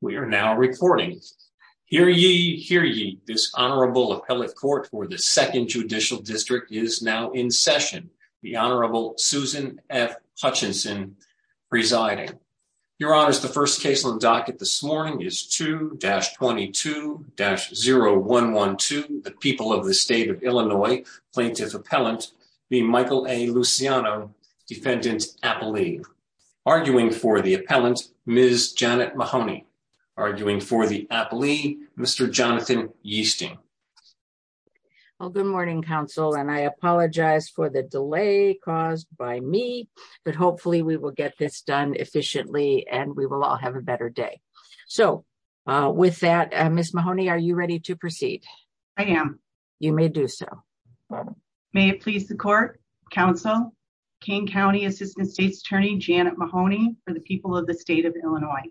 We are now recording. Hear ye, hear ye. This Honorable Appellate Court for the Second Judicial District is now in session. The Honorable Susan F. Hutchinson presiding. Your Honor, the first case on docket this morning is 2-22-0112, the People of the State of Illinois Plaintiff Appellant v. Michael A. Luciano, Defendant Appellee. Arguing for the appellant, Ms. Janet Mahoney. Arguing for the appellee, Mr. Jonathan Yeasting. Well, good morning, counsel, and I apologize for the delay caused by me, but hopefully we will get this done efficiently and we will all have a better day. So with that, Ms. Mahoney, are you ready to proceed? I am. You may do so. May it please the court, counsel, King County Assistant State's Attorney Janet Mahoney for the People of the State of Illinois.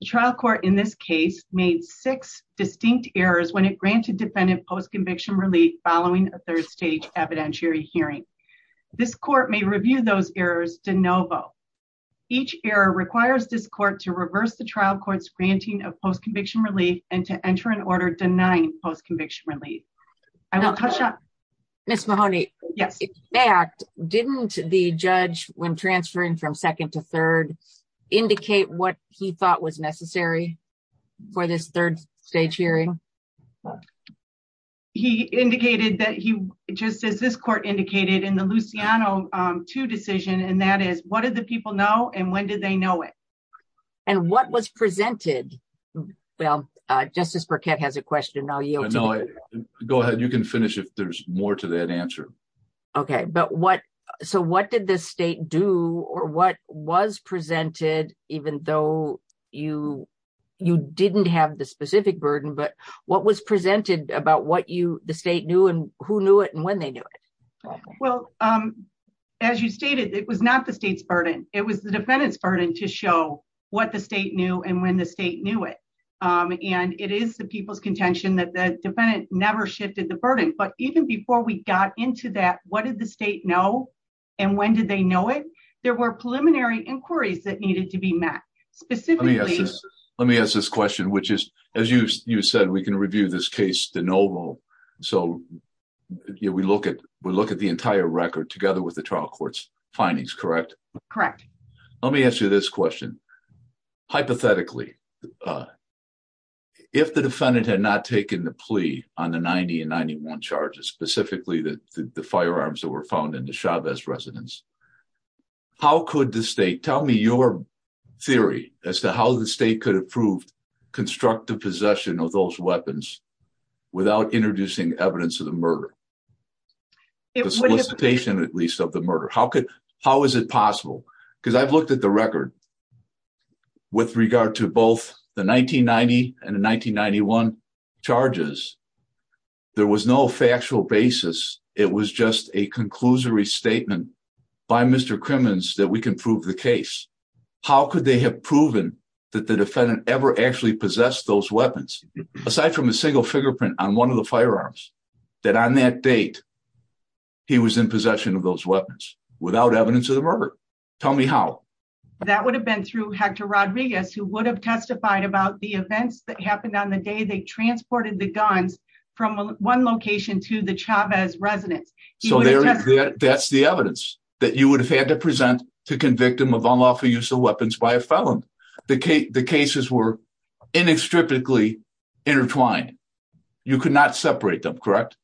The trial court in this case made six distinct errors when it granted defendant post-conviction relief following a third-stage evidentiary hearing. This court may review those errors de novo. Each error requires this court to reverse the trial court's granting of post-conviction relief and to enter an order denying post-conviction relief. I will touch on... Didn't the judge, when transferring from second to third, indicate what he thought was necessary for this third-stage hearing? He indicated that he... Just as this court indicated in the Luciano 2 decision, and that is, what did the people know and when did they know it? And what was presented? Well, Justice Burkett has a question. I'll yield to that. Go ahead. You can finish if there's more to that answer. Okay. So what did the state do or what was presented, even though you didn't have the specific burden, but what was presented about what the state knew and who knew it and when they knew it? Well, as you stated, it was not the state's burden. It was the defendant's burden to show what the state knew and when the state knew it. And it is the people's contention that the got into that, what did the state know and when did they know it? There were preliminary inquiries that needed to be met. Specifically... Let me ask this question, which is, as you said, we can review this case de novo. So we look at the entire record together with the trial court's findings, correct? Correct. Let me ask you this question. Hypothetically, if the defendant had not taken the plea on the 90 and 91 charges, specifically the firearms that were found in the Chavez residence, how could the state... Tell me your theory as to how the state could have proved constructive possession of those weapons without introducing evidence of the murder, the solicitation at least of the murder. How is it possible? Because I've looked at the record with regard to both the 1990 and the 1991 charges, there was no factual basis. It was just a conclusory statement by Mr. Crimmins that we can prove the case. How could they have proven that the defendant ever actually possessed those weapons? Aside from a single fingerprint on one of the firearms, that on that date, he was in possession of those weapons without evidence of the murder. Tell me how. That would have been through Hector Rodriguez, who would have testified about the events that happened on the day they transported the guns from one location to the Chavez residence. So that's the evidence that you would have had to present to convict him of unlawful use of weapons by a felon. The cases were inextricably intertwined. You could not separate them, correct?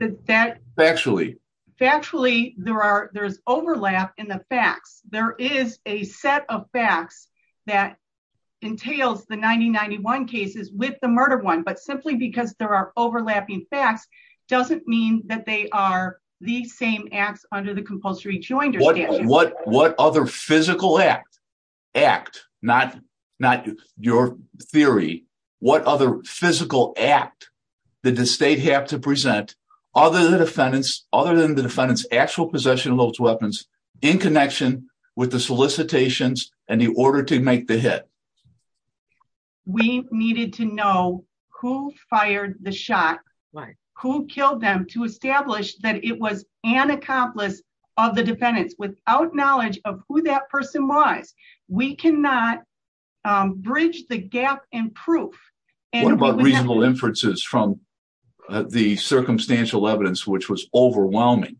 Factually. Factually, there's overlap in the facts. There is a set of facts that entails the 1991 cases with the murder one, but simply because there are overlapping facts doesn't mean that they are the same acts under the compulsory joinder statute. What other physical act, not your theory, what other physical act did the state have to present other than the defendant's actual possession of those weapons in connection with the solicitations and the order to make the hit? We needed to know who fired the shot, who killed them to establish that it was an accomplice of the defendants without knowledge of who that person was. We cannot bridge the gap in proof. What about reasonable inferences from the circumstantial evidence, which was overwhelming?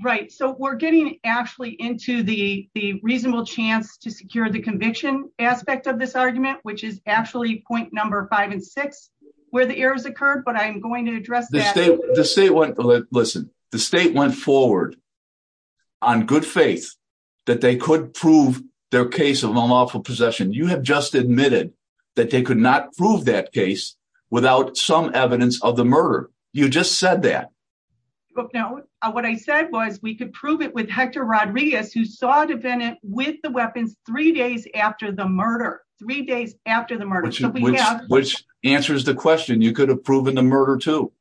Right, so we're getting actually into the reasonable chance to secure the conviction aspect of this argument, which is actually point number five and six where the errors occurred, but I'm going to address that. The state went forward on good faith that they could prove their case of unlawful possession. You have just admitted that they could not prove that case without some evidence of the murder. You just said that. What I said was we could prove it with Hector Rodriguez, who saw a defendant with the weapons three days after the murder, three days after the murder. Which answers the question, you could have proven the murder too.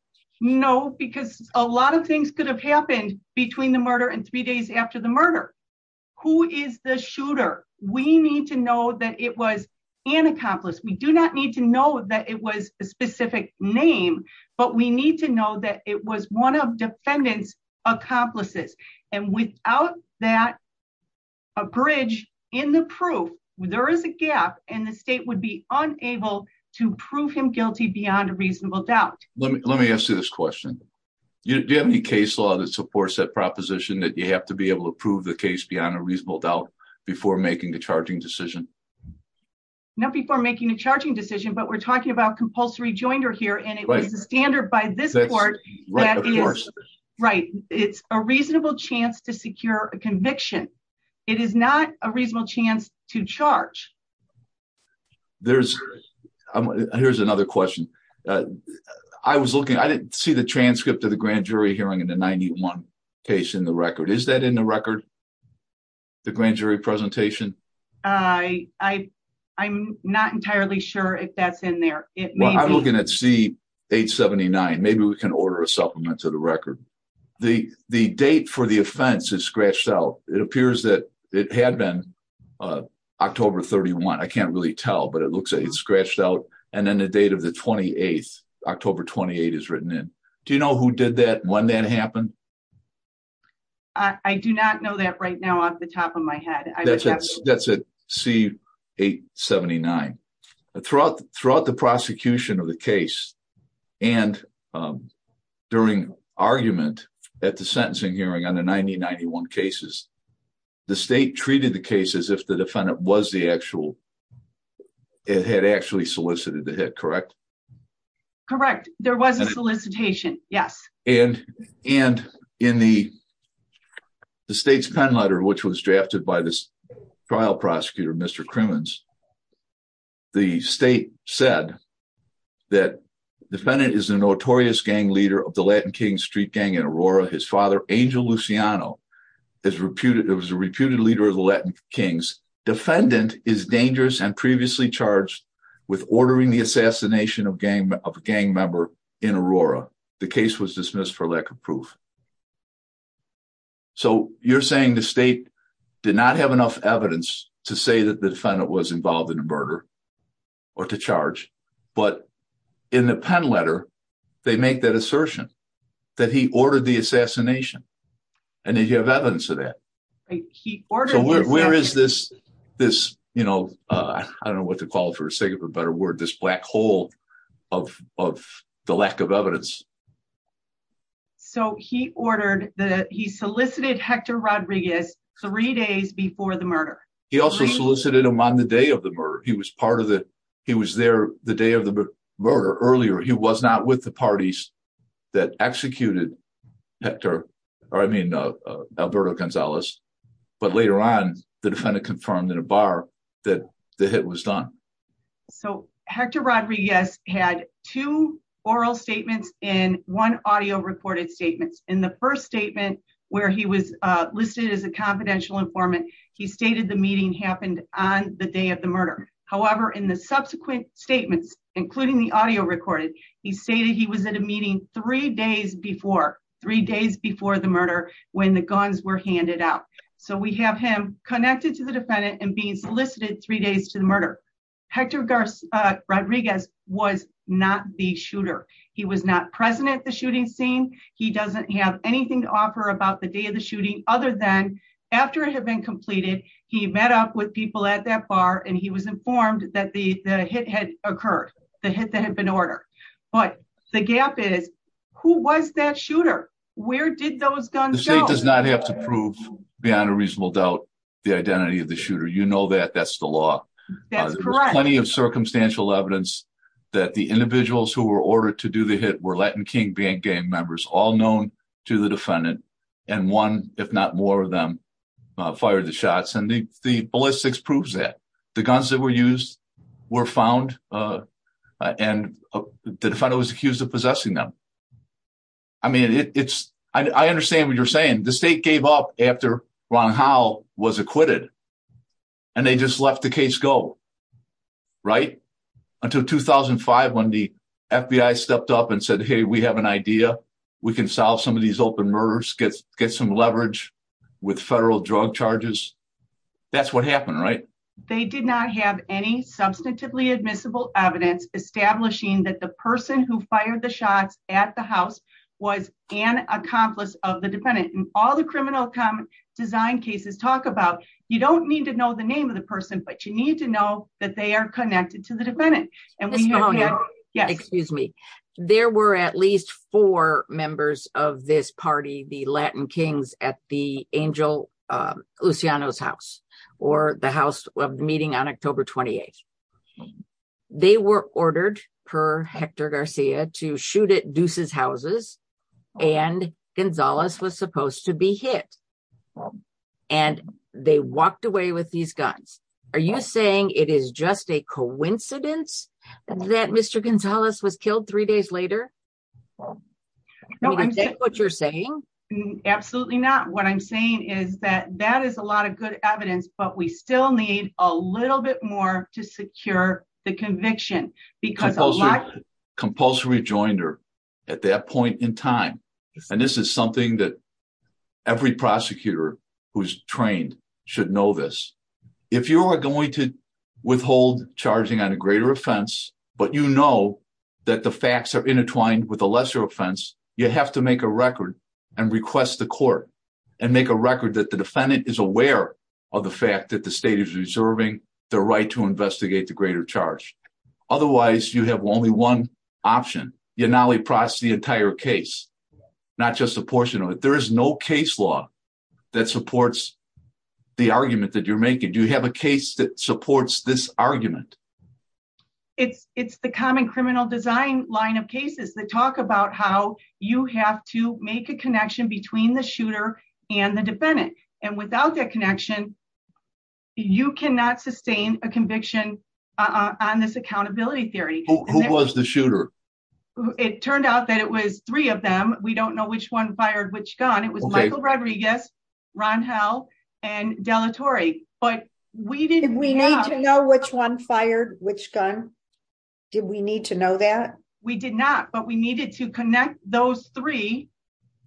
No, because a lot of things could have happened between the murder and three days after the murder. Who is the shooter? We need to know that it was an accomplice. We do not need to know that it was a specific name, but we need to know that it was one of defendant's accomplices. Without that a bridge in the proof, there is a gap and the state would be unable to prove him guilty beyond a reasonable doubt. Let me ask you this question. Do you have any case law that supports that proposition that you have to be able to prove the case beyond a charging decision, but we're talking about compulsory joinder here and it was a standard by this court. It's a reasonable chance to secure a conviction. It is not a reasonable chance to charge. Here's another question. I was looking, I didn't see the transcript of the grand jury hearing in the 91 case in the record. Is that in the record, the grand jury presentation? I, I, I'm not entirely sure if that's in there. I'm looking at C 879. Maybe we can order a supplement to the record. The, the date for the offense is scratched out. It appears that it had been October 31. I can't really tell, but it looks like it's scratched out. And then the date of the 28th, October 28 is written in. Do you know who did that when that happened? I do not know that right now off the top of my head. That's at C 879. Throughout, throughout the prosecution of the case and during argument at the sentencing hearing on the 90, 91 cases, the state treated the case as if the defendant was the actual, it had actually solicited the hit, correct? Correct. There was a solicitation. Yes. And, and in the, the state's pen letter, which was drafted by this trial prosecutor, Mr. Crimmins, the state said that defendant is a notorious gang leader of the Latin King street gang in Aurora. His father, Angel Luciano is reputed. It was a reputed leader of the Latin Kings. Defendant is dangerous and previously charged with ordering the assassination of gang, of gang member in Aurora. The case was dismissed for lack of proof. So you're saying the state did not have enough evidence to say that the defendant was involved in a murder or to charge, but in the pen letter, they make that assertion that he ordered the you know, uh, I don't know what to call it for a second, but a word, this black hole of, of the lack of evidence. So he ordered the, he solicited Hector Rodriguez three days before the murder. He also solicited him on the day of the murder. He was part of the, he was there the day of the murder earlier. He was not with the parties that executed Hector or I mean, uh, but later on the defendant confirmed in a bar that the hit was done. So Hector Rodriguez had two oral statements in one audio recorded statements in the first statement where he was listed as a confidential informant. He stated the meeting happened on the day of the murder. However, in the subsequent statements, including the audio recorded, he stated he was at a meeting three days before three days before the murder, when the guns were handed out. So we have him connected to the defendant and being solicited three days to the murder. Hector Rodriguez was not the shooter. He was not present at the shooting scene. He doesn't have anything to offer about the day of the shooting other than after it had been completed, he met up with people at that bar and he was informed that the, the hit had occurred, the hit that had been ordered. But the gap is who was that shooter? Where did those guns go? The state does not have to prove beyond a reasonable doubt, the identity of the shooter. You know, that that's the law. There's plenty of circumstantial evidence that the individuals who were ordered to do the hit were Latin King band gang members, all known to the defendant. And one, if not more of them, uh, fired the shots. And the, the ballistics proves that the guns that were used were found, uh, uh, and the defendant was I understand what you're saying. The state gave up after Ron Howe was acquitted and they just left the case go right until 2005 when the FBI stepped up and said, Hey, we have an idea. We can solve some of these open murders, get, get some leverage with federal drug charges. That's what happened, right? They did not have any substantively admissible evidence establishing that the person who fired the shots at the house was an accomplice of the defendant and all the criminal design cases talk about, you don't need to know the name of the person, but you need to know that they are connected to the defendant. And we have, yeah, excuse me. There were at least four members of this party, the Latin Kings at the angel, uh, Luciano's house or the house of meeting on October 28th, they were ordered per Hector Garcia to shoot at deuces houses and Gonzalez was supposed to be hit. And they walked away with these guns. Are you saying it is just a coincidence that Mr. Gonzalez was killed three days later? No, I'm saying what you're saying. Absolutely not. What I'm saying is that that is a lot of evidence, but we still need a little bit more to secure the conviction because a lot compulsory rejoinder at that point in time. And this is something that every prosecutor who's trained should know this. If you are going to withhold charging on a greater offense, but you know that the facts are intertwined with a lesser offense, you have to make a record and request the court and make a record that the defendant is aware of the fact that the state is reserving the right to investigate the greater charge. Otherwise you have only one option. You're not only process the entire case, not just a portion of it. There is no case law that supports the argument that you're making. Do you have a case that supports this argument? It's the common criminal design line of cases that talk about how you have to make a connection between the shooter and the defendant. And without that connection, you cannot sustain a conviction on this accountability theory. Who was the shooter? It turned out that it was three of them. We don't know which one fired which gun. It was Michael which gun? Did we need to know that? We did not, but we needed to connect those three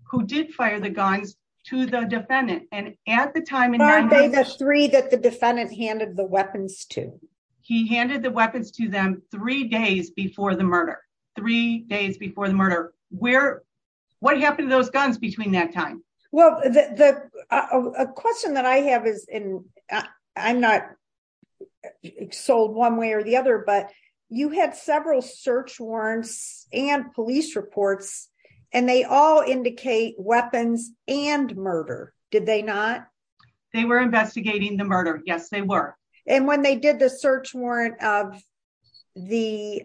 who did fire the guns to the defendant. And at the time, three that the defendant handed the weapons to, he handed the weapons to them three days before the murder, three days before the murder, where, what happened to those guns between that time? Well, the question that I have is in, I'm not sold one way or the other, but you had several search warrants and police reports, and they all indicate weapons and murder. Did they not? They were investigating the murder. Yes, they were. And when they did the search warrant of the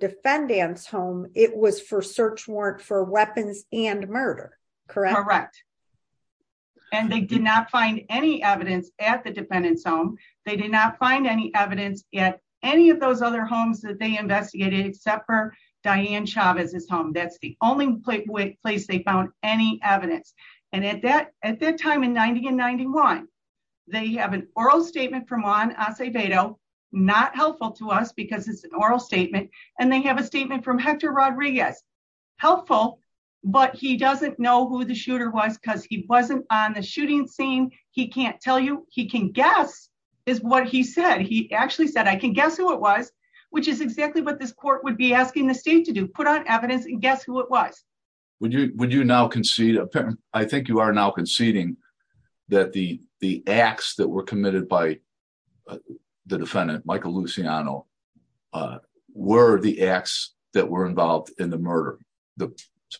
defendant's home, it was for search warrant for weapons and murder, correct? Correct. And they did not find any evidence at the defendant's home. They did not find any evidence at any of those other homes that they investigated except for Diane Chavez's home. That's the only place they found any evidence. And at that, at that time in 90 and 91, they have an oral statement from Juan Acevedo, not helpful to us because it's an oral statement. And they have a statement from Hector Rodriguez, helpful, but he doesn't know who the shooter was because he wasn't on the shooting scene. He can't tell you, he can guess is what he said. He actually said, I can guess who it was, which is exactly what this court would be asking the state to do, put on evidence and guess who it was. Would you, would you now concede, I think you are now conceding that the, the acts that were committed by the defendant, Michael Luciano, were the acts that were involved in the murder, the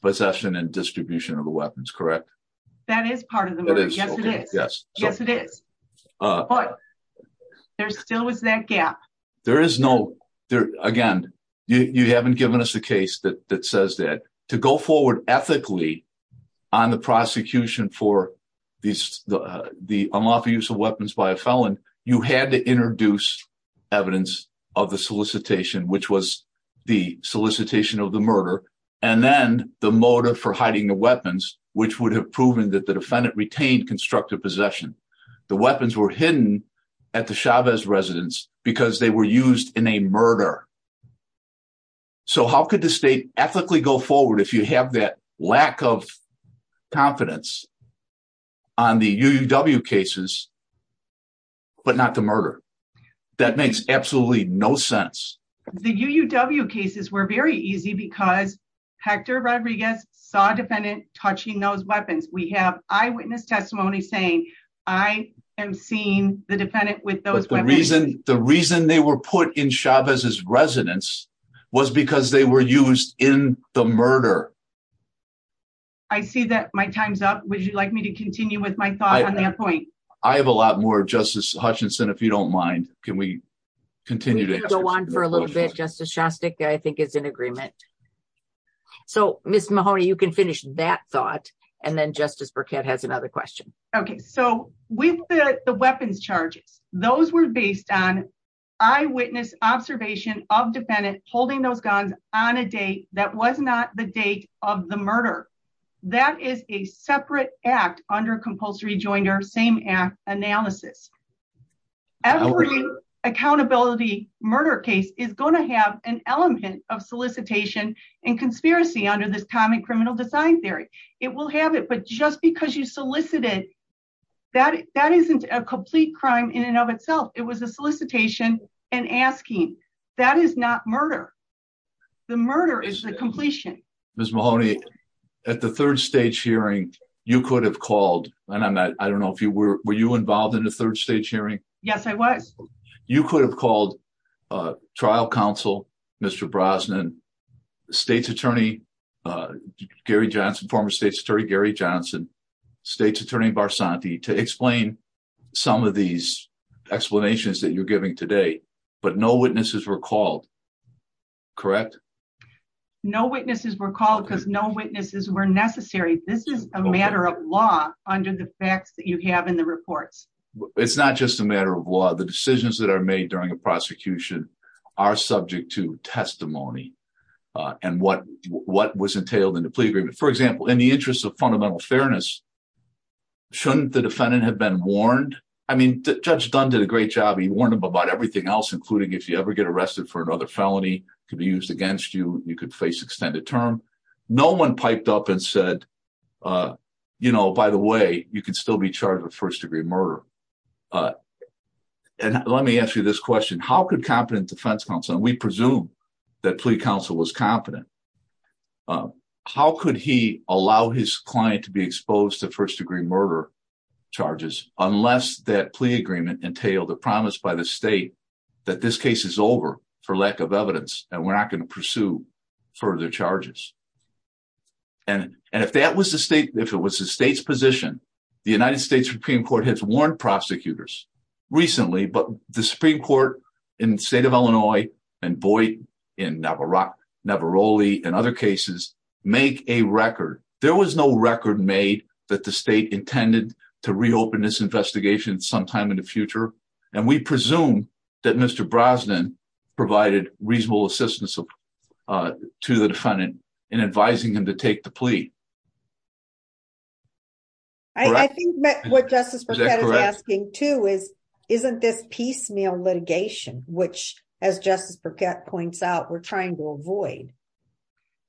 possession and distribution of the weapons, correct? That is part of the murder. Yes, it is. Yes. Yes, it is. But there still was that gap. There is no, there, again, you, you haven't given us a case that, that says that to go forward ethically on the prosecution for the unlawful use of weapons by a felon, you had to introduce evidence of the solicitation, which was the solicitation of the murder. And then the motive for hiding the weapons, which would have proven that the defendant retained constructive possession. The weapons were hidden at the Chavez residence because they were used in a murder. So how could the state ethically go forward if you have that lack of confidence? On the UUW cases, but not the murder. That makes absolutely no sense. The UUW cases were very easy because Hector Rodriguez saw defendant touching those weapons. We have eyewitness testimony saying, I am seeing the defendant with those reasons. The reason they were put in Chavez's residence was because they were used in the murder. I see that my time's up. Would you like me to continue with my thought on that point? I have a lot more Justice Hutchinson, if you don't mind, can we continue to go on for a little bit? Justice Shostak, I think is in agreement. So Ms. Mahoney, you can finish that thought. And then Justice Burkett has another question. Okay. So with the weapons charges, those were based on eyewitness observation of defendant holding those guns on a date that was not the murder. That is a separate act under compulsory joint or same act analysis. Every accountability murder case is going to have an element of solicitation and conspiracy under this common criminal design theory. It will have it, but just because you solicited that, that isn't a complete crime in and of itself. It was a solicitation and asking that is not murder. The murder is the completion. Ms. Mahoney at the third stage hearing, you could have called and I'm not, I don't know if you were, were you involved in the third stage hearing? Yes, I was. You could have called a trial counsel, Mr. Brosnan, state's attorney, Gary Johnson, former state's attorney, Gary Johnson, state's attorney Barsanti to explain some of these but no witnesses were called, correct? No witnesses were called because no witnesses were necessary. This is a matter of law under the facts that you have in the reports. It's not just a matter of law. The decisions that are made during a prosecution are subject to testimony and what was entailed in the plea agreement. For example, in the interest of fundamental fairness, shouldn't the defendant have been warned? I mean, Judge Dunn did a great job. He warned him about everything else, including if you ever get arrested for another felony could be used against you, you could face extended term. No one piped up and said, you know, by the way, you can still be charged with first degree murder. And let me ask you this question, how could competent defense counsel, and we presume that plea counsel was competent. How could he allow his client to be exposed to first degree murder charges, unless that plea agreement entailed a promise by the state that this case is over for lack of evidence, and we're not going to pursue further charges. And if that was the state, if it was the state's position, the United States Supreme Court has warned prosecutors recently, but the Supreme Court in the state of Illinois, and boy, in Navarro, Navarro Lee and other cases, make a record, there was no record made that the state intended to reopen this investigation sometime in the future. And we presume that Mr. Brosnan provided reasonable assistance to the defendant in advising him to take the plea. I think what Justice Burkett is asking too is, isn't this piecemeal litigation, which, as Justice Burkett points out, we're trying to avoid.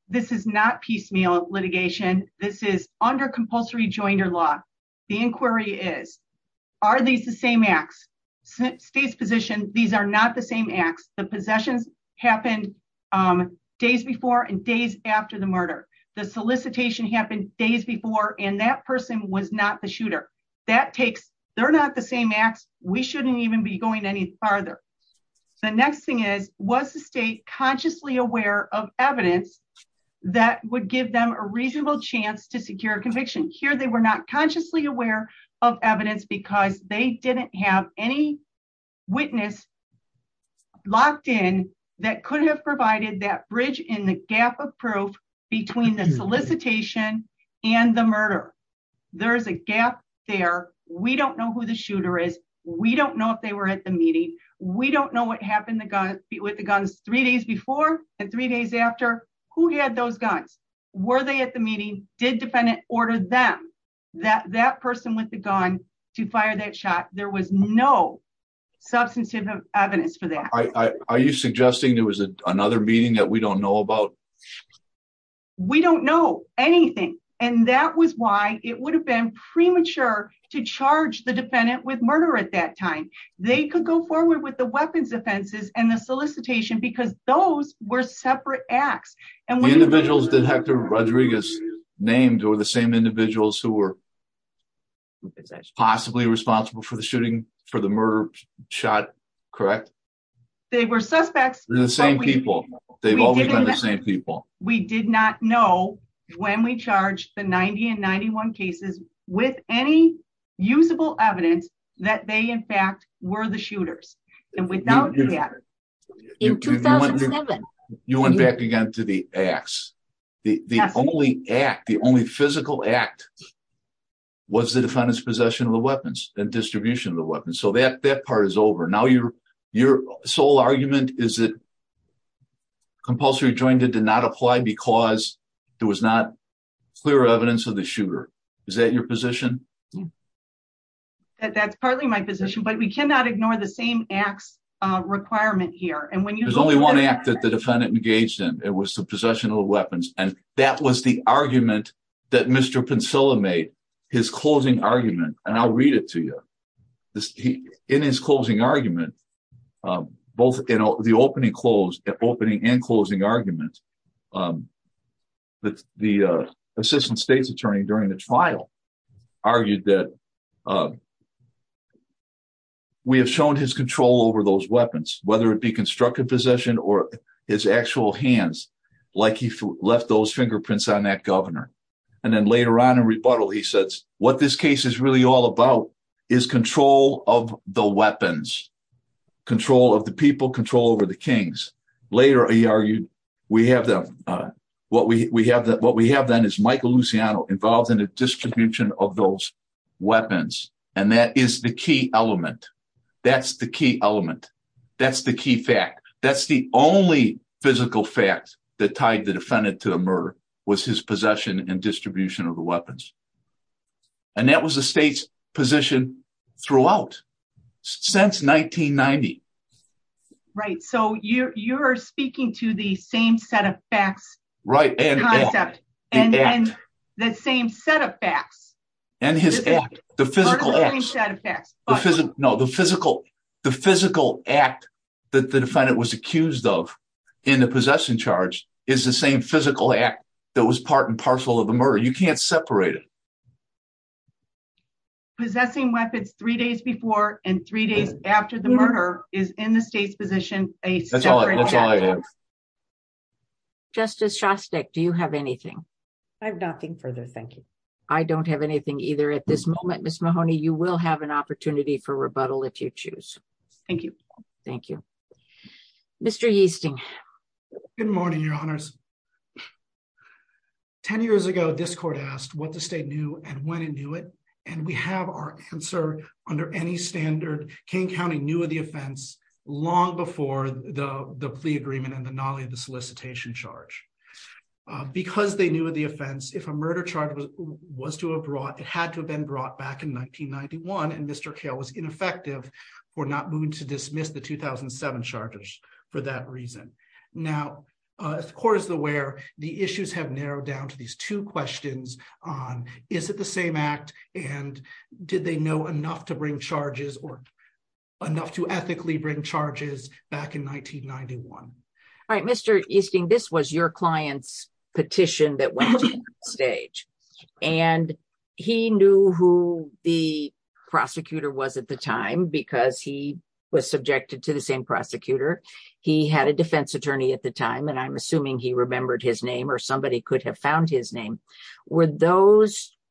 This is not piecemeal litigation. This is under compulsory joinder law. The inquiry is, are these the same acts? State's position, these are not the same acts. The possessions happened days before and days after the murder. The solicitation happened days before and that person was not the shooter. That takes, they're not the same acts. We shouldn't even be going any farther. The next thing is, was the state consciously aware of evidence that would give them a reasonable chance to secure conviction? Here, they were not consciously aware of evidence because they didn't have any witness locked in that could have provided that bridge in the gap of proof between the solicitation and the murder. There is a gap there. We don't know who the shooter is. We don't know if they were at the meeting. We don't know what happened with the guns three days before and three days after. Who had those guns? Were they at the meeting? Did defendant order them, that person with the gun, to fire that shot? There was no substantive evidence for that. Are you suggesting there was another meeting that we don't know about? We don't know anything and that was why it would have been premature to charge the defendant with murder at that time. They could go forward with the weapons offenses and the solicitation because those were separate acts. The individuals that Hector Rodriguez named were the same individuals who were possibly responsible for the murder shot, correct? They were the same people. We did not know when we charged the 90 and 91 cases with any usable evidence that they in fact were the shooters. You went back again to the acts. The only act, the only physical act, was the defendant's possession of the weapons and distribution of the weapons. That part is over. Your sole argument is that compulsory jointed did not apply because there was not clear evidence of shooter. Is that your position? That's partly my position but we cannot ignore the same acts requirement here. There's only one act that the defendant engaged in. It was the possession of the weapons and that was the argument that Mr. Pencilla made. His closing argument and I'll read it to you. In his closing argument, both in the opening and closing argument, the assistant state's attorney during the trial argued that we have shown his control over those weapons whether it be constructive possession or his actual hands like he left those fingerprints on that governor. Then later on in rebuttal he says what this case is really all about is control of the weapons, control of the people, control over the kings. Later he argued what we have then is Michael Luciano involved in the distribution of those weapons and that is the key element. That's the key element. That's the key fact. That's the only physical fact that tied the defendant to the murder was his possession and distribution of the weapons. That was the state's position throughout since 1990. You're speaking to the same set of facts. The same set of facts. The physical act that the defendant was accused of in the possession charge is the same physical act that was part and parcel of the murder. You can't separate it. Possessing weapons three days before and three days after the separation. That's all I have. Justice Shostak, do you have anything? I have nothing further, thank you. I don't have anything either at this moment, Ms. Mahoney. You will have an opportunity for rebuttal if you choose. Thank you. Thank you. Mr. Yeasting. Good morning, your honors. Ten years ago this court asked what the state knew and when it knew it and we have our answer under any standard. Kane County knew of the offense long before the plea agreement and the NALI, the solicitation charge. Because they knew of the offense, if a murder charge was to have brought, it had to have been brought back in 1991 and Mr. Cale was ineffective for not moving to dismiss the 2007 charges for that reason. Now the court is aware the issues have narrowed down to these two questions on is it the same act and did they know enough to bring charges or enough to ethically bring charges back in 1991. All right, Mr. Yeasting, this was your client's petition that went to court stage and he knew who the prosecutor was at the time because he was subjected to the same prosecutor. He had a defense attorney at the time and I'm assuming he remembered his name or somebody could have found his name. Were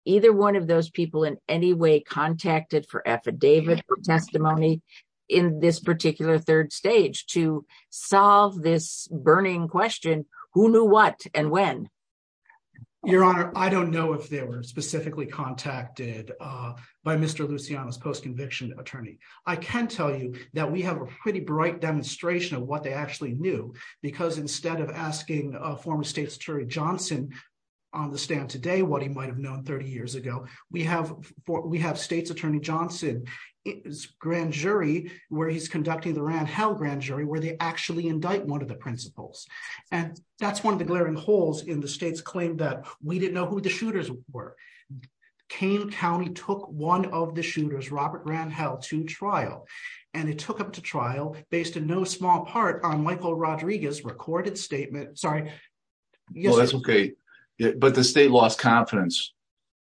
either one of those people in any way contacted for affidavit or testimony in this particular third stage to solve this burning question who knew what and when? Your honor, I don't know if they were specifically contacted by Mr. Luciano's post-conviction attorney. I can tell you that we have a pretty former State's Attorney Johnson on the stand today what he might have known 30 years ago. We have State's Attorney Johnson's grand jury where he's conducting the Rand Hell grand jury where they actually indict one of the principals and that's one of the glaring holes in the state's claim that we didn't know who the shooters were. Kane County took one of the shooters, Robert Rand Hell, to trial and it took up to trial based in no small part on Michael Rodriguez's recorded statement. Sorry. That's okay but the state lost confidence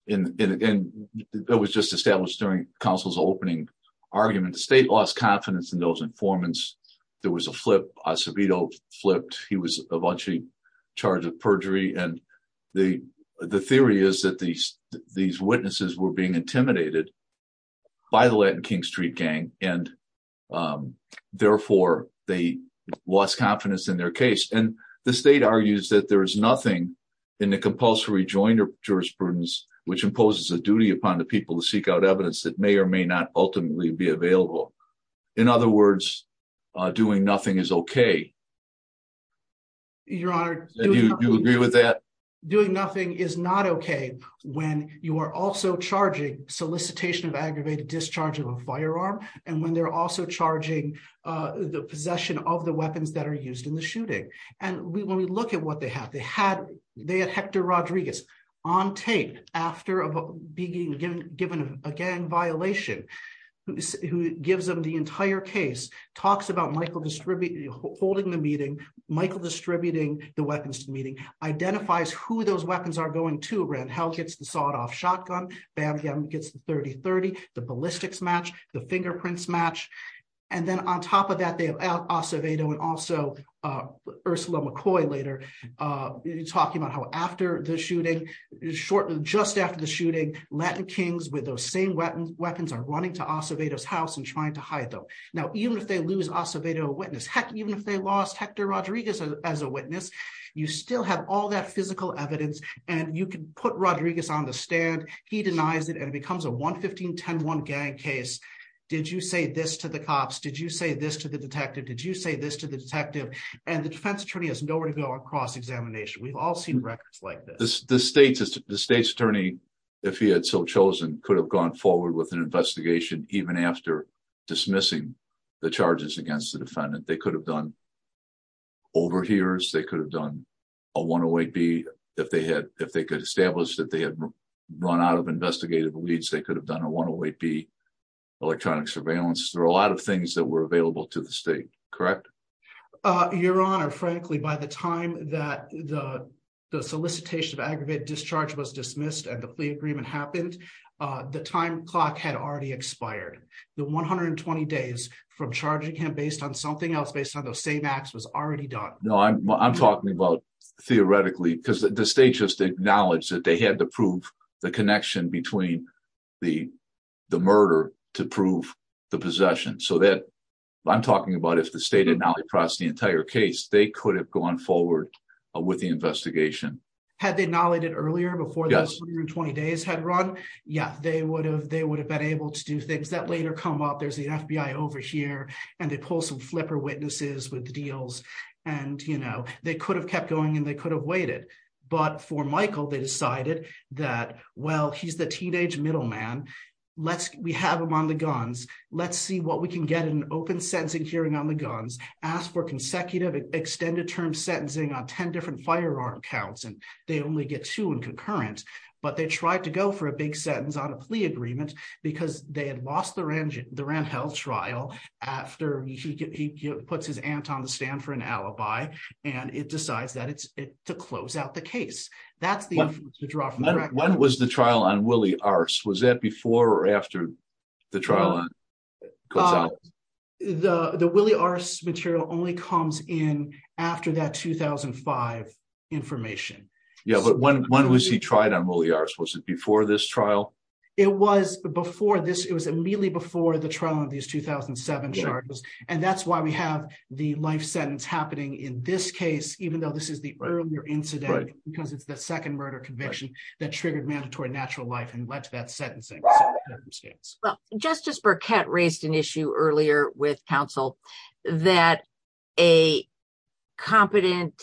and it was just established during counsel's opening argument. The state lost confidence in those informants. There was a flip. Acevedo flipped. He was eventually charged with perjury and the theory is that these witnesses were being intimidated by the Latin King Street gang and therefore they lost confidence in their case and the state argues that there is nothing in the compulsory joint jurisprudence which imposes a duty upon the people to seek out evidence that may or may not ultimately be available. In other words, doing nothing is okay. Your Honor. Do you agree with that? Doing nothing is not okay when you are also charging solicitation of aggravated discharge of a firearm and when they're also charging the possession of the weapons that are used in the shooting and when we look at what they had, they had Hector Rodriguez on tape after being given a gang violation who gives them the entire case, talks about Michael holding the meeting, Michael distributing the weapons to the meeting, identifies who those weapons are going to. Rand Hell gets the the ballistics match, the fingerprints match and then on top of that they have Acevedo and also Ursula McCoy later talking about how after the shooting, shortly just after the shooting, Latin Kings with those same weapons are running to Acevedo's house and trying to hide them. Now even if they lose Acevedo a witness, heck even if they lost Hector Rodriguez as a witness, you still have all that physical evidence and you can put Rodriguez on the stand. He denies it and it becomes a 115-10-1 gang case. Did you say this to the cops? Did you say this to the detective? Did you say this to the detective? And the defense attorney has nowhere to go across examination. We've all seen records like this. The state's attorney, if he had so chosen, could have gone forward with an investigation even after dismissing the charges against the defendant. They could have done overhears, they could have done a 108B if they had, if they could establish that they had run out of investigative leads, they could have done a 108B electronic surveillance. There are a lot of things that were available to the state, correct? Your honor, frankly by the time that the solicitation of aggravated discharge was dismissed and the plea agreement happened, the time clock had already expired. The 120 days from charging him based on something else, based on those same acts, was already done. No, I'm talking about theoretically because the state acknowledged that they had to prove the connection between the murder to prove the possession. So I'm talking about if the state had not processed the entire case, they could have gone forward with the investigation. Had they acknowledged it earlier before those 120 days had run? Yeah, they would have been able to do things. That later come up, there's the FBI over here and they pull some flipper witnesses with the deals and they could have kept going and they decided that, well, he's the teenage middleman, we have him on the guns, let's see what we can get in an open sentencing hearing on the guns, ask for consecutive extended term sentencing on 10 different firearm counts and they only get two in concurrent. But they tried to go for a big sentence on a plea agreement because they had lost the Randhell trial after he puts his aunt on the stand for an alibi and it decides that it's to close out the case. When was the trial on Willie Arce? Was that before or after the trial? The Willie Arce material only comes in after that 2005 information. Yeah, but when was he tried on Willie Arce? Was it before this trial? It was immediately before the trial on these 2007 charges and that's why we have the life sentence happening in this case even though this is the earlier incident because it's the second murder conviction that triggered mandatory natural life and led to that sentencing. Well, Justice Burkett raised an issue earlier with counsel that a competent,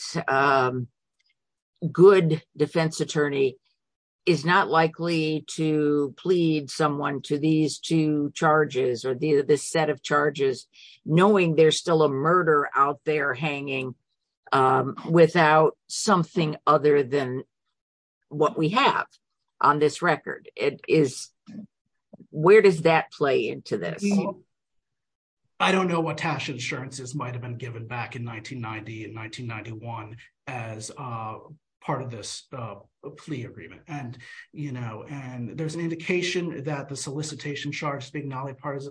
good defense attorney is not likely to plead someone to these two charges or this set of murder out there hanging without something other than what we have on this record. Where does that play into this? I don't know what tax insurances might have been given back in 1990 and 1991 as part of this plea agreement. There's an indication that the solicitation charge was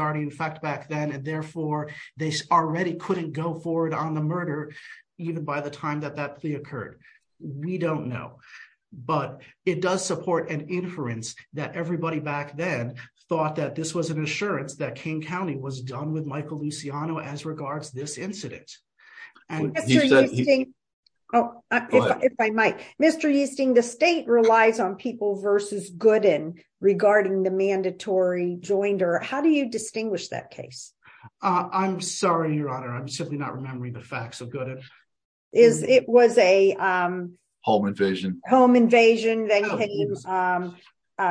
already in effect back then and therefore they already couldn't go forward on the murder even by the time that that plea occurred. We don't know, but it does support an inference that everybody back then thought that this was an assurance that King County was done with Michael Luciano as regards this incident. Mr. Easting, the state relies on people versus regarding the mandatory joinder. How do you distinguish that case? I'm sorry, Your Honor. I'm simply not remembering the facts so good. It was a home invasion,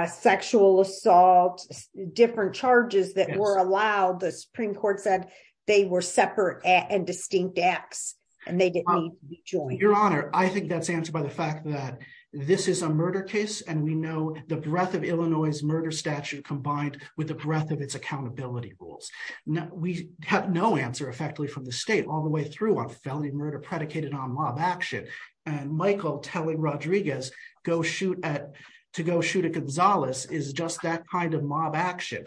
sexual assault, different charges that were allowed. The Supreme Court said they were separate and distinct acts and they didn't need to be joined. Your Honor, I think that's answered by the fact that this is a murder case and we know the breadth of Illinois' murder statute combined with the breadth of its accountability rules. We have no answer effectively from the state all the way through on felony murder predicated on mob action and Michael telling Rodriguez to go shoot a Gonzalez is just that kind of mob action.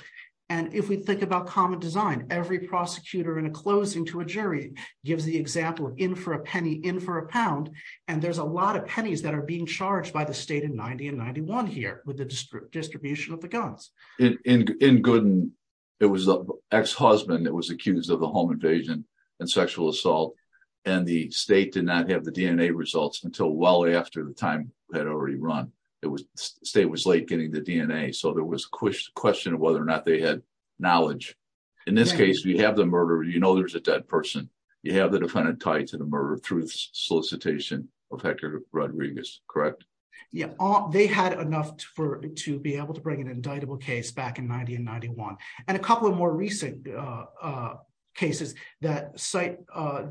If we think about common design, every prosecutor in a closing to a jury gives the example of in for a penny, in for a pound and there's a lot of pennies that are being charged by the state in 1991 here with the distribution of the guns. In Gooden, it was the ex-husband that was accused of the home invasion and sexual assault and the state did not have the DNA results until well after the time had already run. The state was late getting the DNA so there was a question of whether or not they had knowledge. In this case, we have the murderer. You know there's a dead person. You have the defendant tied to the murder through the solicitation of Hector Rodriguez, correct? Yeah, they had enough for to be able to bring an indictable case back in 1991 and a couple of more recent cases that cite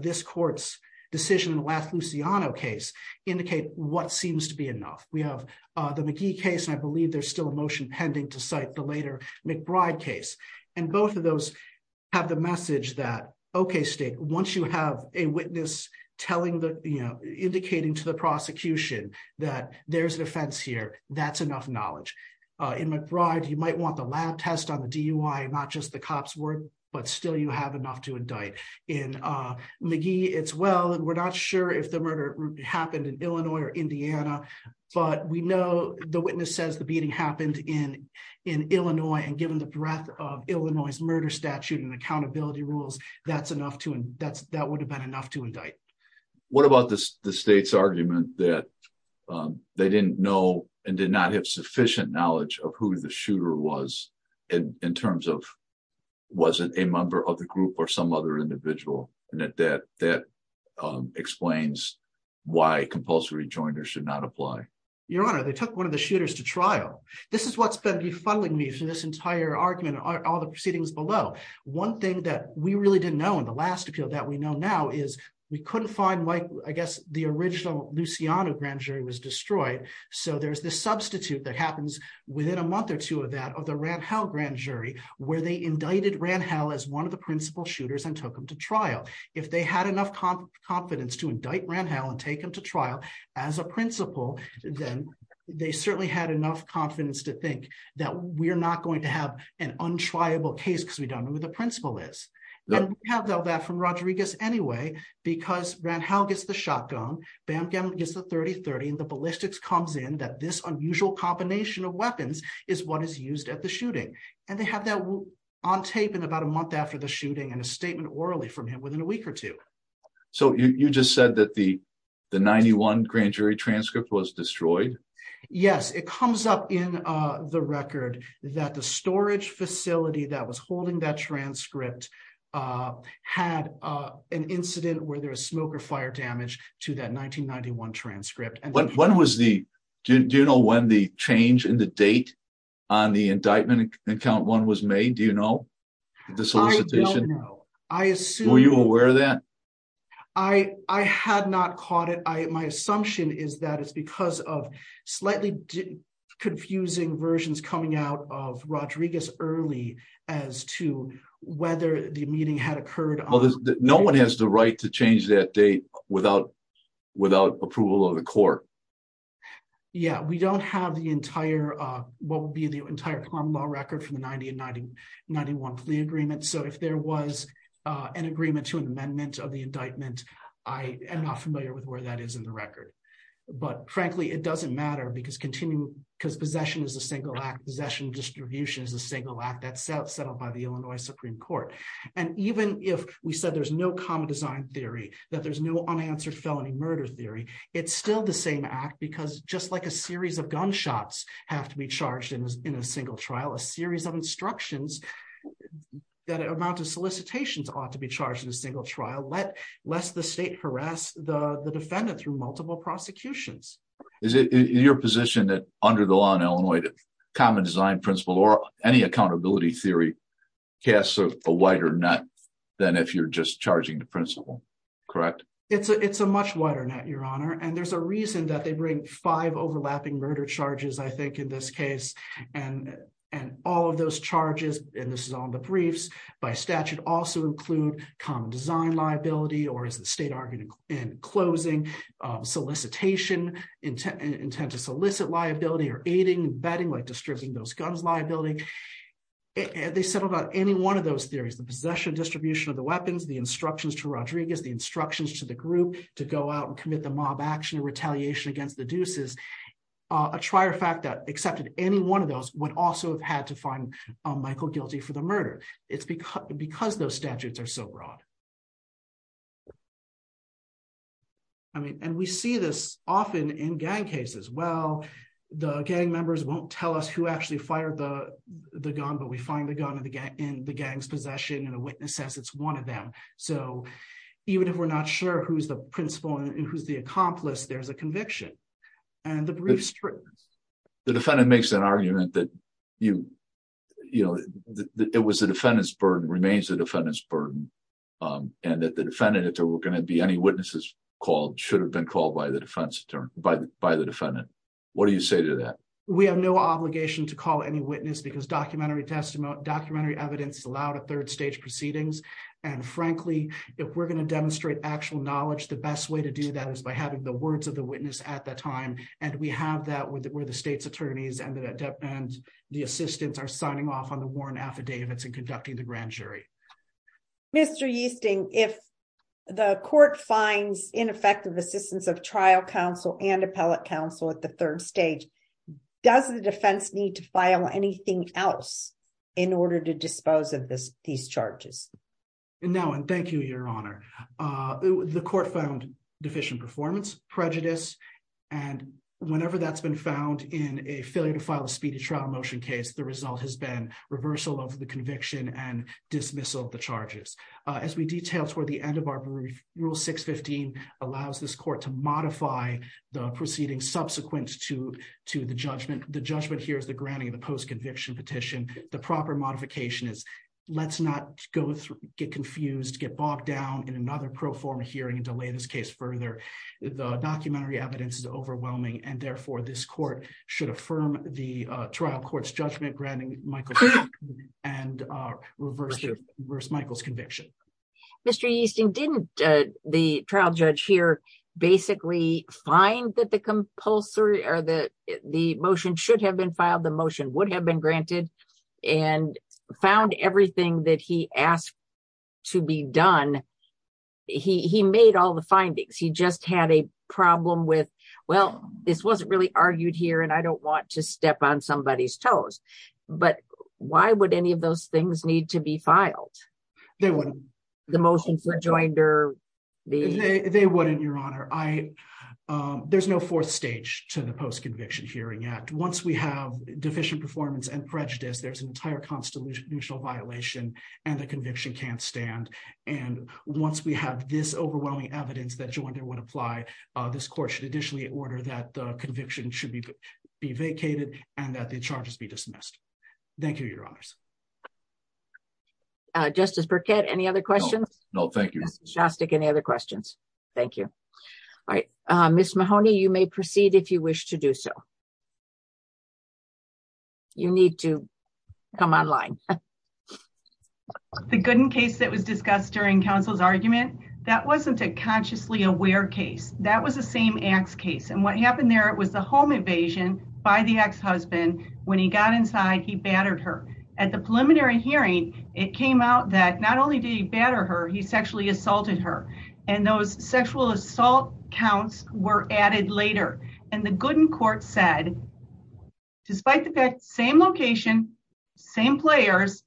this court's decision in the last Luciano case indicate what seems to be enough. We have the McGee case and I believe there's still a motion pending to cite the later McBride case and both of those have the message that okay state once you have a witness telling the you know indicating to the prosecution that there's an offense here that's enough knowledge. In McBride, you might want the lab test on the DUI not just the cop's word but still you have enough to indict. In McGee, it's well and we're not sure if the murder happened in Illinois or Indiana but we know the witness says the beating happened in Illinois and given the breadth of Illinois' murder statute and accountability rules that's enough to and that's enough to indict. What about the state's argument that they didn't know and did not have sufficient knowledge of who the shooter was in terms of was it a member of the group or some other individual and that that explains why compulsory joiners should not apply? Your honor, they took one of the shooters to trial. This is what's been befuddling me through this entire argument and all the proceedings below. One thing that we really didn't know in the last appeal that we know is we couldn't find like I guess the original Luciano grand jury was destroyed so there's this substitute that happens within a month or two of that of the Randhell grand jury where they indicted Randhell as one of the principal shooters and took him to trial. If they had enough confidence to indict Randhell and take him to trial as a principal then they certainly had enough confidence to think that we're not going to have an untriable case because we don't know the principal is. We have that from Rodriguez anyway because Randhell gets the shotgun, Bamgham gets the 30-30 and the ballistics comes in that this unusual combination of weapons is what is used at the shooting and they have that on tape in about a month after the shooting and a statement orally from him within a week or two. So you just said that the the 91 grand jury transcript was destroyed? Yes, it comes up in the record that the storage facility that was holding that transcript had an incident where there was smoke or fire damage to that 1991 transcript. When was the, do you know when the change in the date on the indictment account one was made? Do you know? I don't know. Were you aware of that? I had not caught it. My assumption is that it's slightly confusing versions coming out of Rodriguez early as to whether the meeting had occurred. No one has the right to change that date without approval of the court. Yeah, we don't have the entire, what would be the entire common law record from the 90 and 91 plea agreement so if there was an agreement to an amendment of the indictment I am not familiar with where that is in the record. But frankly it doesn't matter because continuing, because possession is a single act, possession distribution is a single act that's set up by the Illinois Supreme Court. And even if we said there's no common design theory, that there's no unanswered felony murder theory, it's still the same act because just like a series of gunshots have to be charged in a single trial, a series of instructions, that amount of solicitations ought to be charged in a single trial, lest the state harass the defendant through multiple prosecutions. Is it your position that under the law in Illinois that common design principle or any accountability theory casts a wider net than if you're just charging the principle, correct? It's a much wider net, your honor, and there's a reason that they bring five overlapping murder charges I think in this case and all of those charges, and this is on the briefs by statute, also include common design liability or as the state argued in closing, solicitation, intent to solicit liability or aiding and abetting like distributing those guns liability. They settled on any one of those theories, the possession distribution of the weapons, the instructions to Rodriguez, the instructions to the group to go out and commit the mob action and retaliation against the deuces. A trier fact that accepted any one of those would also have to find Michael guilty for the murder. It's because those statutes are so broad. I mean, and we see this often in gang cases. Well, the gang members won't tell us who actually fired the gun, but we find the gun in the gang's possession and a witness says it's one of them. So even if we're not sure who's the principal and who's the accomplice, there's a conviction and the briefs. The defendant makes an argument that it was the defendant's burden remains the defendant's burden and that the defendant, if there were going to be any witnesses called, should have been called by the defendant. What do you say to that? We have no obligation to call any witness because documentary evidence allowed a third stage proceedings. And frankly, if we're going to demonstrate actual knowledge, the best way to do that is by having the words of the time. And we have that where the state's attorneys and the assistance are signing off on the warrant affidavits and conducting the grand jury. Mr. Yeasting, if the court finds ineffective assistance of trial counsel and appellate counsel at the third stage, does the defense need to file anything else in order to dispose of these charges? No, and thank you, Your Honor. The court found deficient performance, prejudice, and whenever that's been found in a failure to file a speedy trial motion case, the result has been reversal of the conviction and dismissal of the charges. As we detailed toward the end of our brief, Rule 615 allows this court to modify the proceedings subsequent to the judgment. The judgment here is the granting of the post-conviction petition. The proper modification is, let's not get confused, get bogged down in another pro forma hearing and delay this case further. The documentary evidence is overwhelming and therefore this court should affirm the trial court's judgment granting Michael's conviction and reverse Michael's conviction. Mr. Yeasting, didn't the trial judge here basically find that the compulsory or that the motion should have been filed, the motion would have been granted, and found everything that he asked to be done, he made all the findings. He just had a problem with, well, this wasn't really argued here and I don't want to step on somebody's toes, but why would any of those things need to be filed? They wouldn't. The motion for joinder. They wouldn't, Your Honor. There's no fourth stage to the post-conviction hearing act. Once we have deficient performance and prejudice, there's an entire constitutional violation and the conviction can't stand. And once we have this overwhelming evidence that joinder would apply, this court should additionally order that the conviction should be vacated and that the charges be dismissed. Thank you, Your Honors. Justice Burkett, any other questions? No, thank you. Justice Shostak, any other questions? Thank you. All right. Ms. Mahoney, you may proceed if you wish to do so. You need to come online. The Gooden case that was discussed during counsel's argument, that wasn't a consciously aware case. That was the same Axe case. And what happened there, it was the home invasion by the ex-husband. When he got inside, he battered her. At the preliminary hearing, it came out that not only did he batter her, he sexually assaulted her. And those sexual assault counts were added later. And the Gooden court said, despite the same location, same players,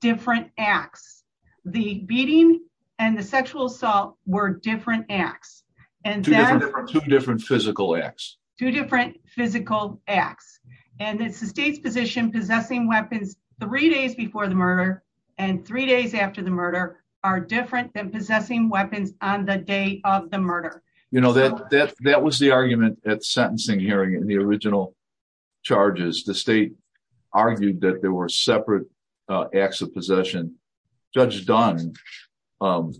different Axe. The beating and the sexual assault were different Axe. Two different physical Axe. Two different physical Axe. And it's the state's position possessing weapons three days before the murder and three days after the murder are different than possessing weapons on the day of the murder. You know, that was the argument at the sentencing hearing in the original charges. The state argued that there were separate Axe of possession. Judge Dunn, in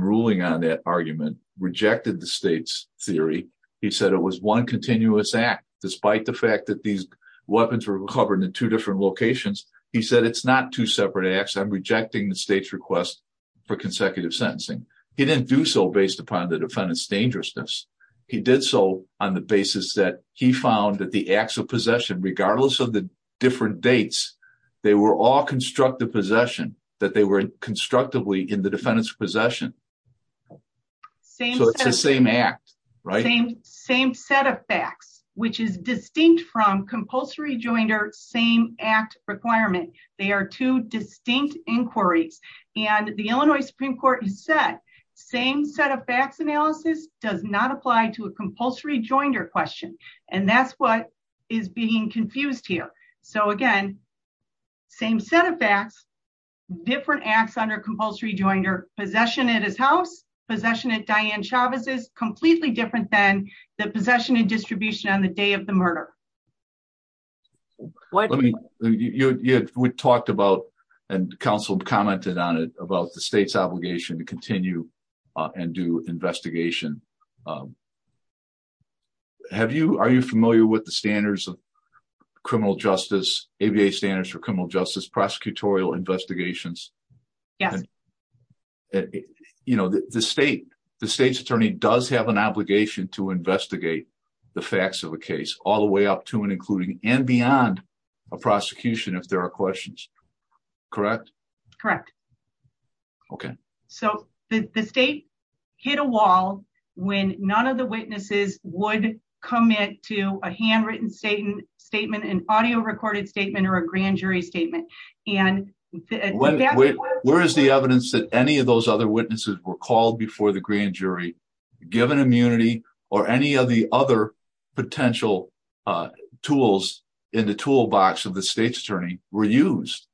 ruling on that argument, rejected the state's theory. He said it was one continuous Act, despite the fact that these weapons were covered in two different locations. He said, it's not two separate Axe. I'm rejecting the state's request for consecutive sentencing. He didn't do so based upon the defendant's dangerousness. He did so on the basis that he found that the Axe of possession, regardless of the different dates, they were all constructed possession, that they were constructively in the defendant's possession. So it's the same Act, right? Same set of facts, which is distinct from compulsory joinder, same Act requirement. They are two distinct inquiries. And the Illinois Supreme Court has said, same set of facts analysis does not apply to a compulsory joinder question. And that's what is being confused here. So again, same set of facts, different acts under compulsory joinder, possession at his house, possession at Diane Chavez's, completely different than the possession and distribution on the day of the murder. Let me, we talked about, and counsel commented on it, about the state's obligation to continue and do investigation. Have you, are you familiar with the standards of criminal justice, ABA standards for criminal justice, prosecutorial investigations? You know, the state, the state's attorney does have an obligation to investigate the facts of a case all the way up to and including and beyond a prosecution, if there are questions. Correct? Correct. Okay. So the state hit a wall when none of the witnesses would commit to a handwritten statement, an audio recorded statement, or a grand jury statement. And where is the evidence that any of those other witnesses were called before the grand jury, given immunity, or any of the other potential tools in the toolbox of the state's attorney were used?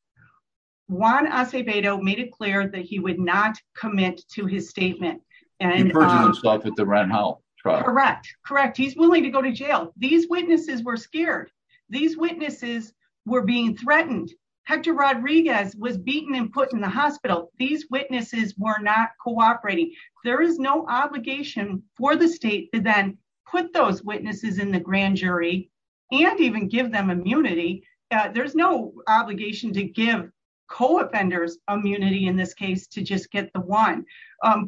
Juan Acevedo made it clear that he would not commit to his statement. And he purged himself at the Rand Health. Correct. Correct. He's willing to go to jail. These witnesses were scared. These witnesses were being threatened. Hector Rodriguez was for the state to then put those witnesses in the grand jury, and even give them immunity. There's no obligation to give co offenders immunity in this case to just get the one.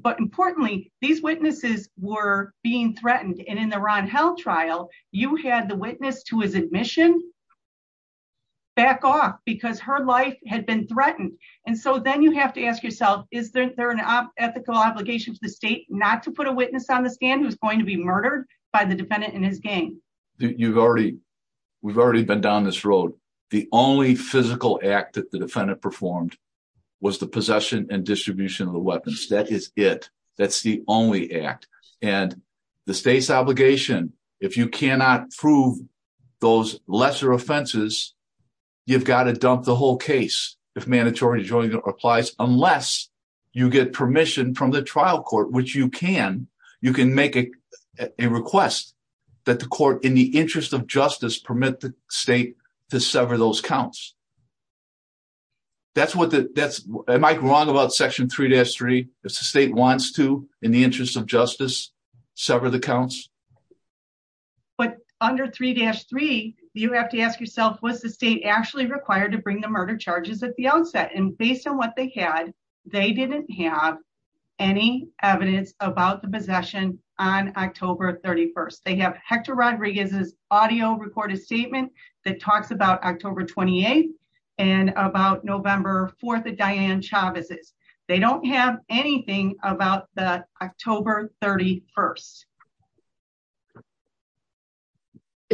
But importantly, these witnesses were being threatened. And in the Ron held trial, you had the witness to his admission back off because her life had been threatened. And so then you have to ask yourself, is there an ethical obligation to the state not to put a witness on the stand who's going to be murdered by the defendant in his game? You've already, we've already been down this road. The only physical act that the defendant performed was the possession and distribution of the weapons. That is it. That's the only act. And the state's obligation, if you cannot prove those lesser offenses, you've got to dump the unless you get permission from the trial court, which you can, you can make a request that the court in the interest of justice permit the state to sever those counts. That's what that's am I wrong about section three dash three, if the state wants to, in the interest of justice, sever the counts. But under three dash three, you have to ask yourself, was the state actually required to bring the murder charges at the outset? And based on what they had, they didn't have any evidence about the possession on October 31st. They have Hector Rodriguez's audio recorded statement that talks about October 28th, and about November 4th at Diane Chavez's. They don't have anything about the October 31st.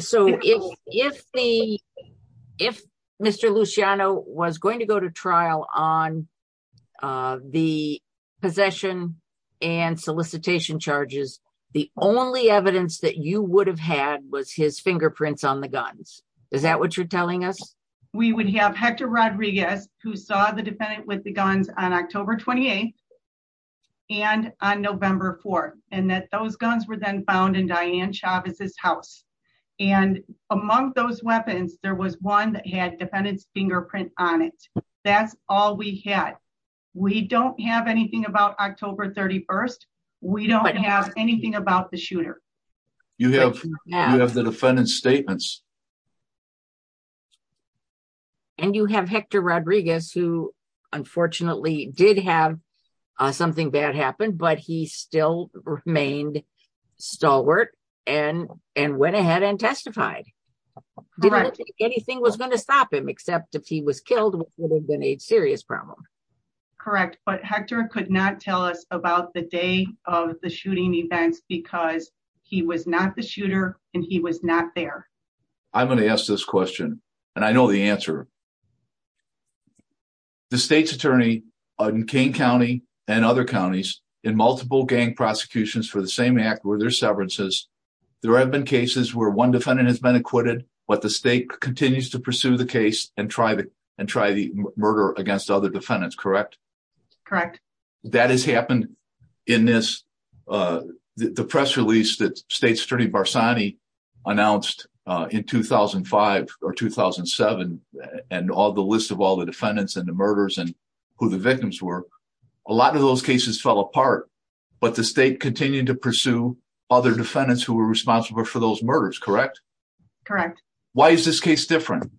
So if, if the, if Mr. Luciano was going to go to trial on the possession and solicitation charges, the only evidence that you would have had was his fingerprints on the guns. Is that what you're telling us? We would have Hector Rodriguez, who saw the defendant with the guns on October 28th and on November 4th, and that those guns were then found in Diane Chavez's house. And among those weapons, there was one that had defendant's fingerprint on it. That's all we had. We don't have anything about October 31st. We don't have anything about the shooter. You have, you have the defendant's statements. And you have Hector Rodriguez, who unfortunately did have something bad happen, but he still remained stalwart and, and went ahead and testified. Correct. Didn't think anything was going to stop him, except if he was killed, would have been a serious problem. Correct. But Hector could not tell us about the day of the shooting events because he was not the I'm going to ask this question and I know the answer. The state's attorney in Kane County and other counties in multiple gang prosecutions for the same act where there's severances, there have been cases where one defendant has been acquitted, but the state continues to pursue the case and try the, and try the murder against other defendants. Correct? Correct. That has happened in this, the press release that state's attorney announced in 2005 or 2007 and all the list of all the defendants and the murders and who the victims were. A lot of those cases fell apart, but the state continued to pursue other defendants who were responsible for those murders. Correct? Correct. Why is this case different?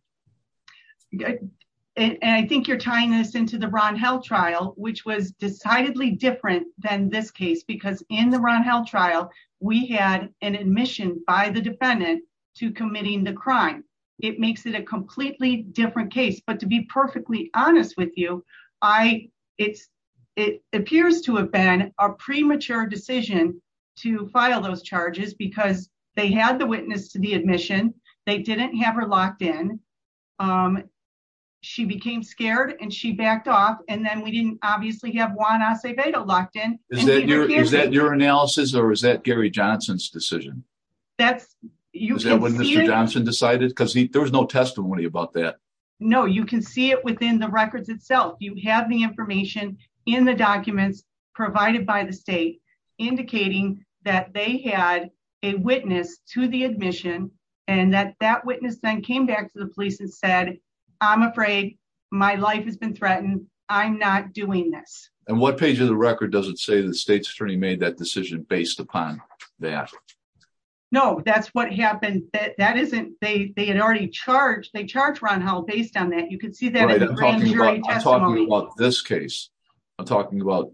And I think you're tying this into the Ron Held trial, which was decidedly different than this case, because in the Ron Held trial, we had an admission by the defendant to committing the crime. It makes it a completely different case, but to be perfectly honest with you, I it's, it appears to have been a premature decision to file those charges because they had the witness to the admission. They didn't have her locked in. She became scared and she is that your analysis or is that Gary Johnson's decision? That's when Mr. Johnson decided because there was no testimony about that. No, you can see it within the records itself. You have the information in the documents provided by the state indicating that they had a witness to the admission and that that witness then came back to the police and said, I'm afraid my life has been threatened. I'm not doing this. And what page of the record does it say the state's attorney made that decision based upon that? No, that's what happened. That isn't, they, they had already charged. They charged Ron Held based on that. You can see that in the grand jury testimony. I'm talking about this case. I'm talking about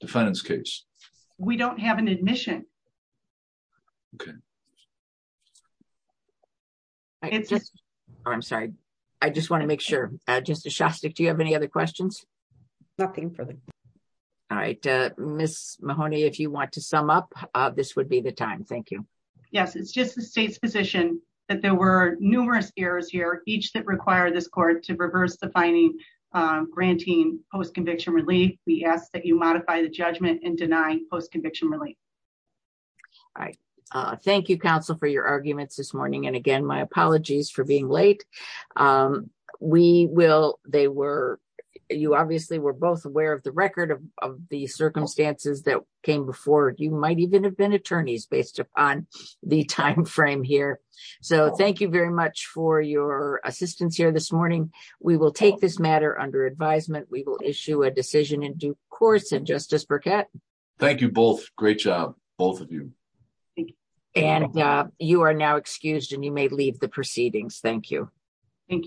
defendant's case. We don't have an admission. Okay. I'm sorry. I just want to make sure, uh, Justice Shostak, do you have any other questions? Nothing further. All right. Uh, Ms. Mahoney, if you want to sum up, uh, this would be the time. Thank you. Yes. It's just the state's position that there were numerous errors here. Each that require this court to reverse the finding, um, granting post-conviction relief. We ask that you modify the judgment and deny post-conviction relief. All right. Uh, thank you counsel for your arguments this morning. And again, my apologies for being late. Um, we will, they were, you obviously were both aware of the record of, of the circumstances that came before you might even have been attorneys based upon the timeframe here. So thank you very much for your assistance here this morning. We will take this matter under advisement. We will issue a decision in due course and Justice Burkett. Thank you both. Great job, both of you. And, uh, you are now excused and you may leave the proceedings. Thank you. Thank you.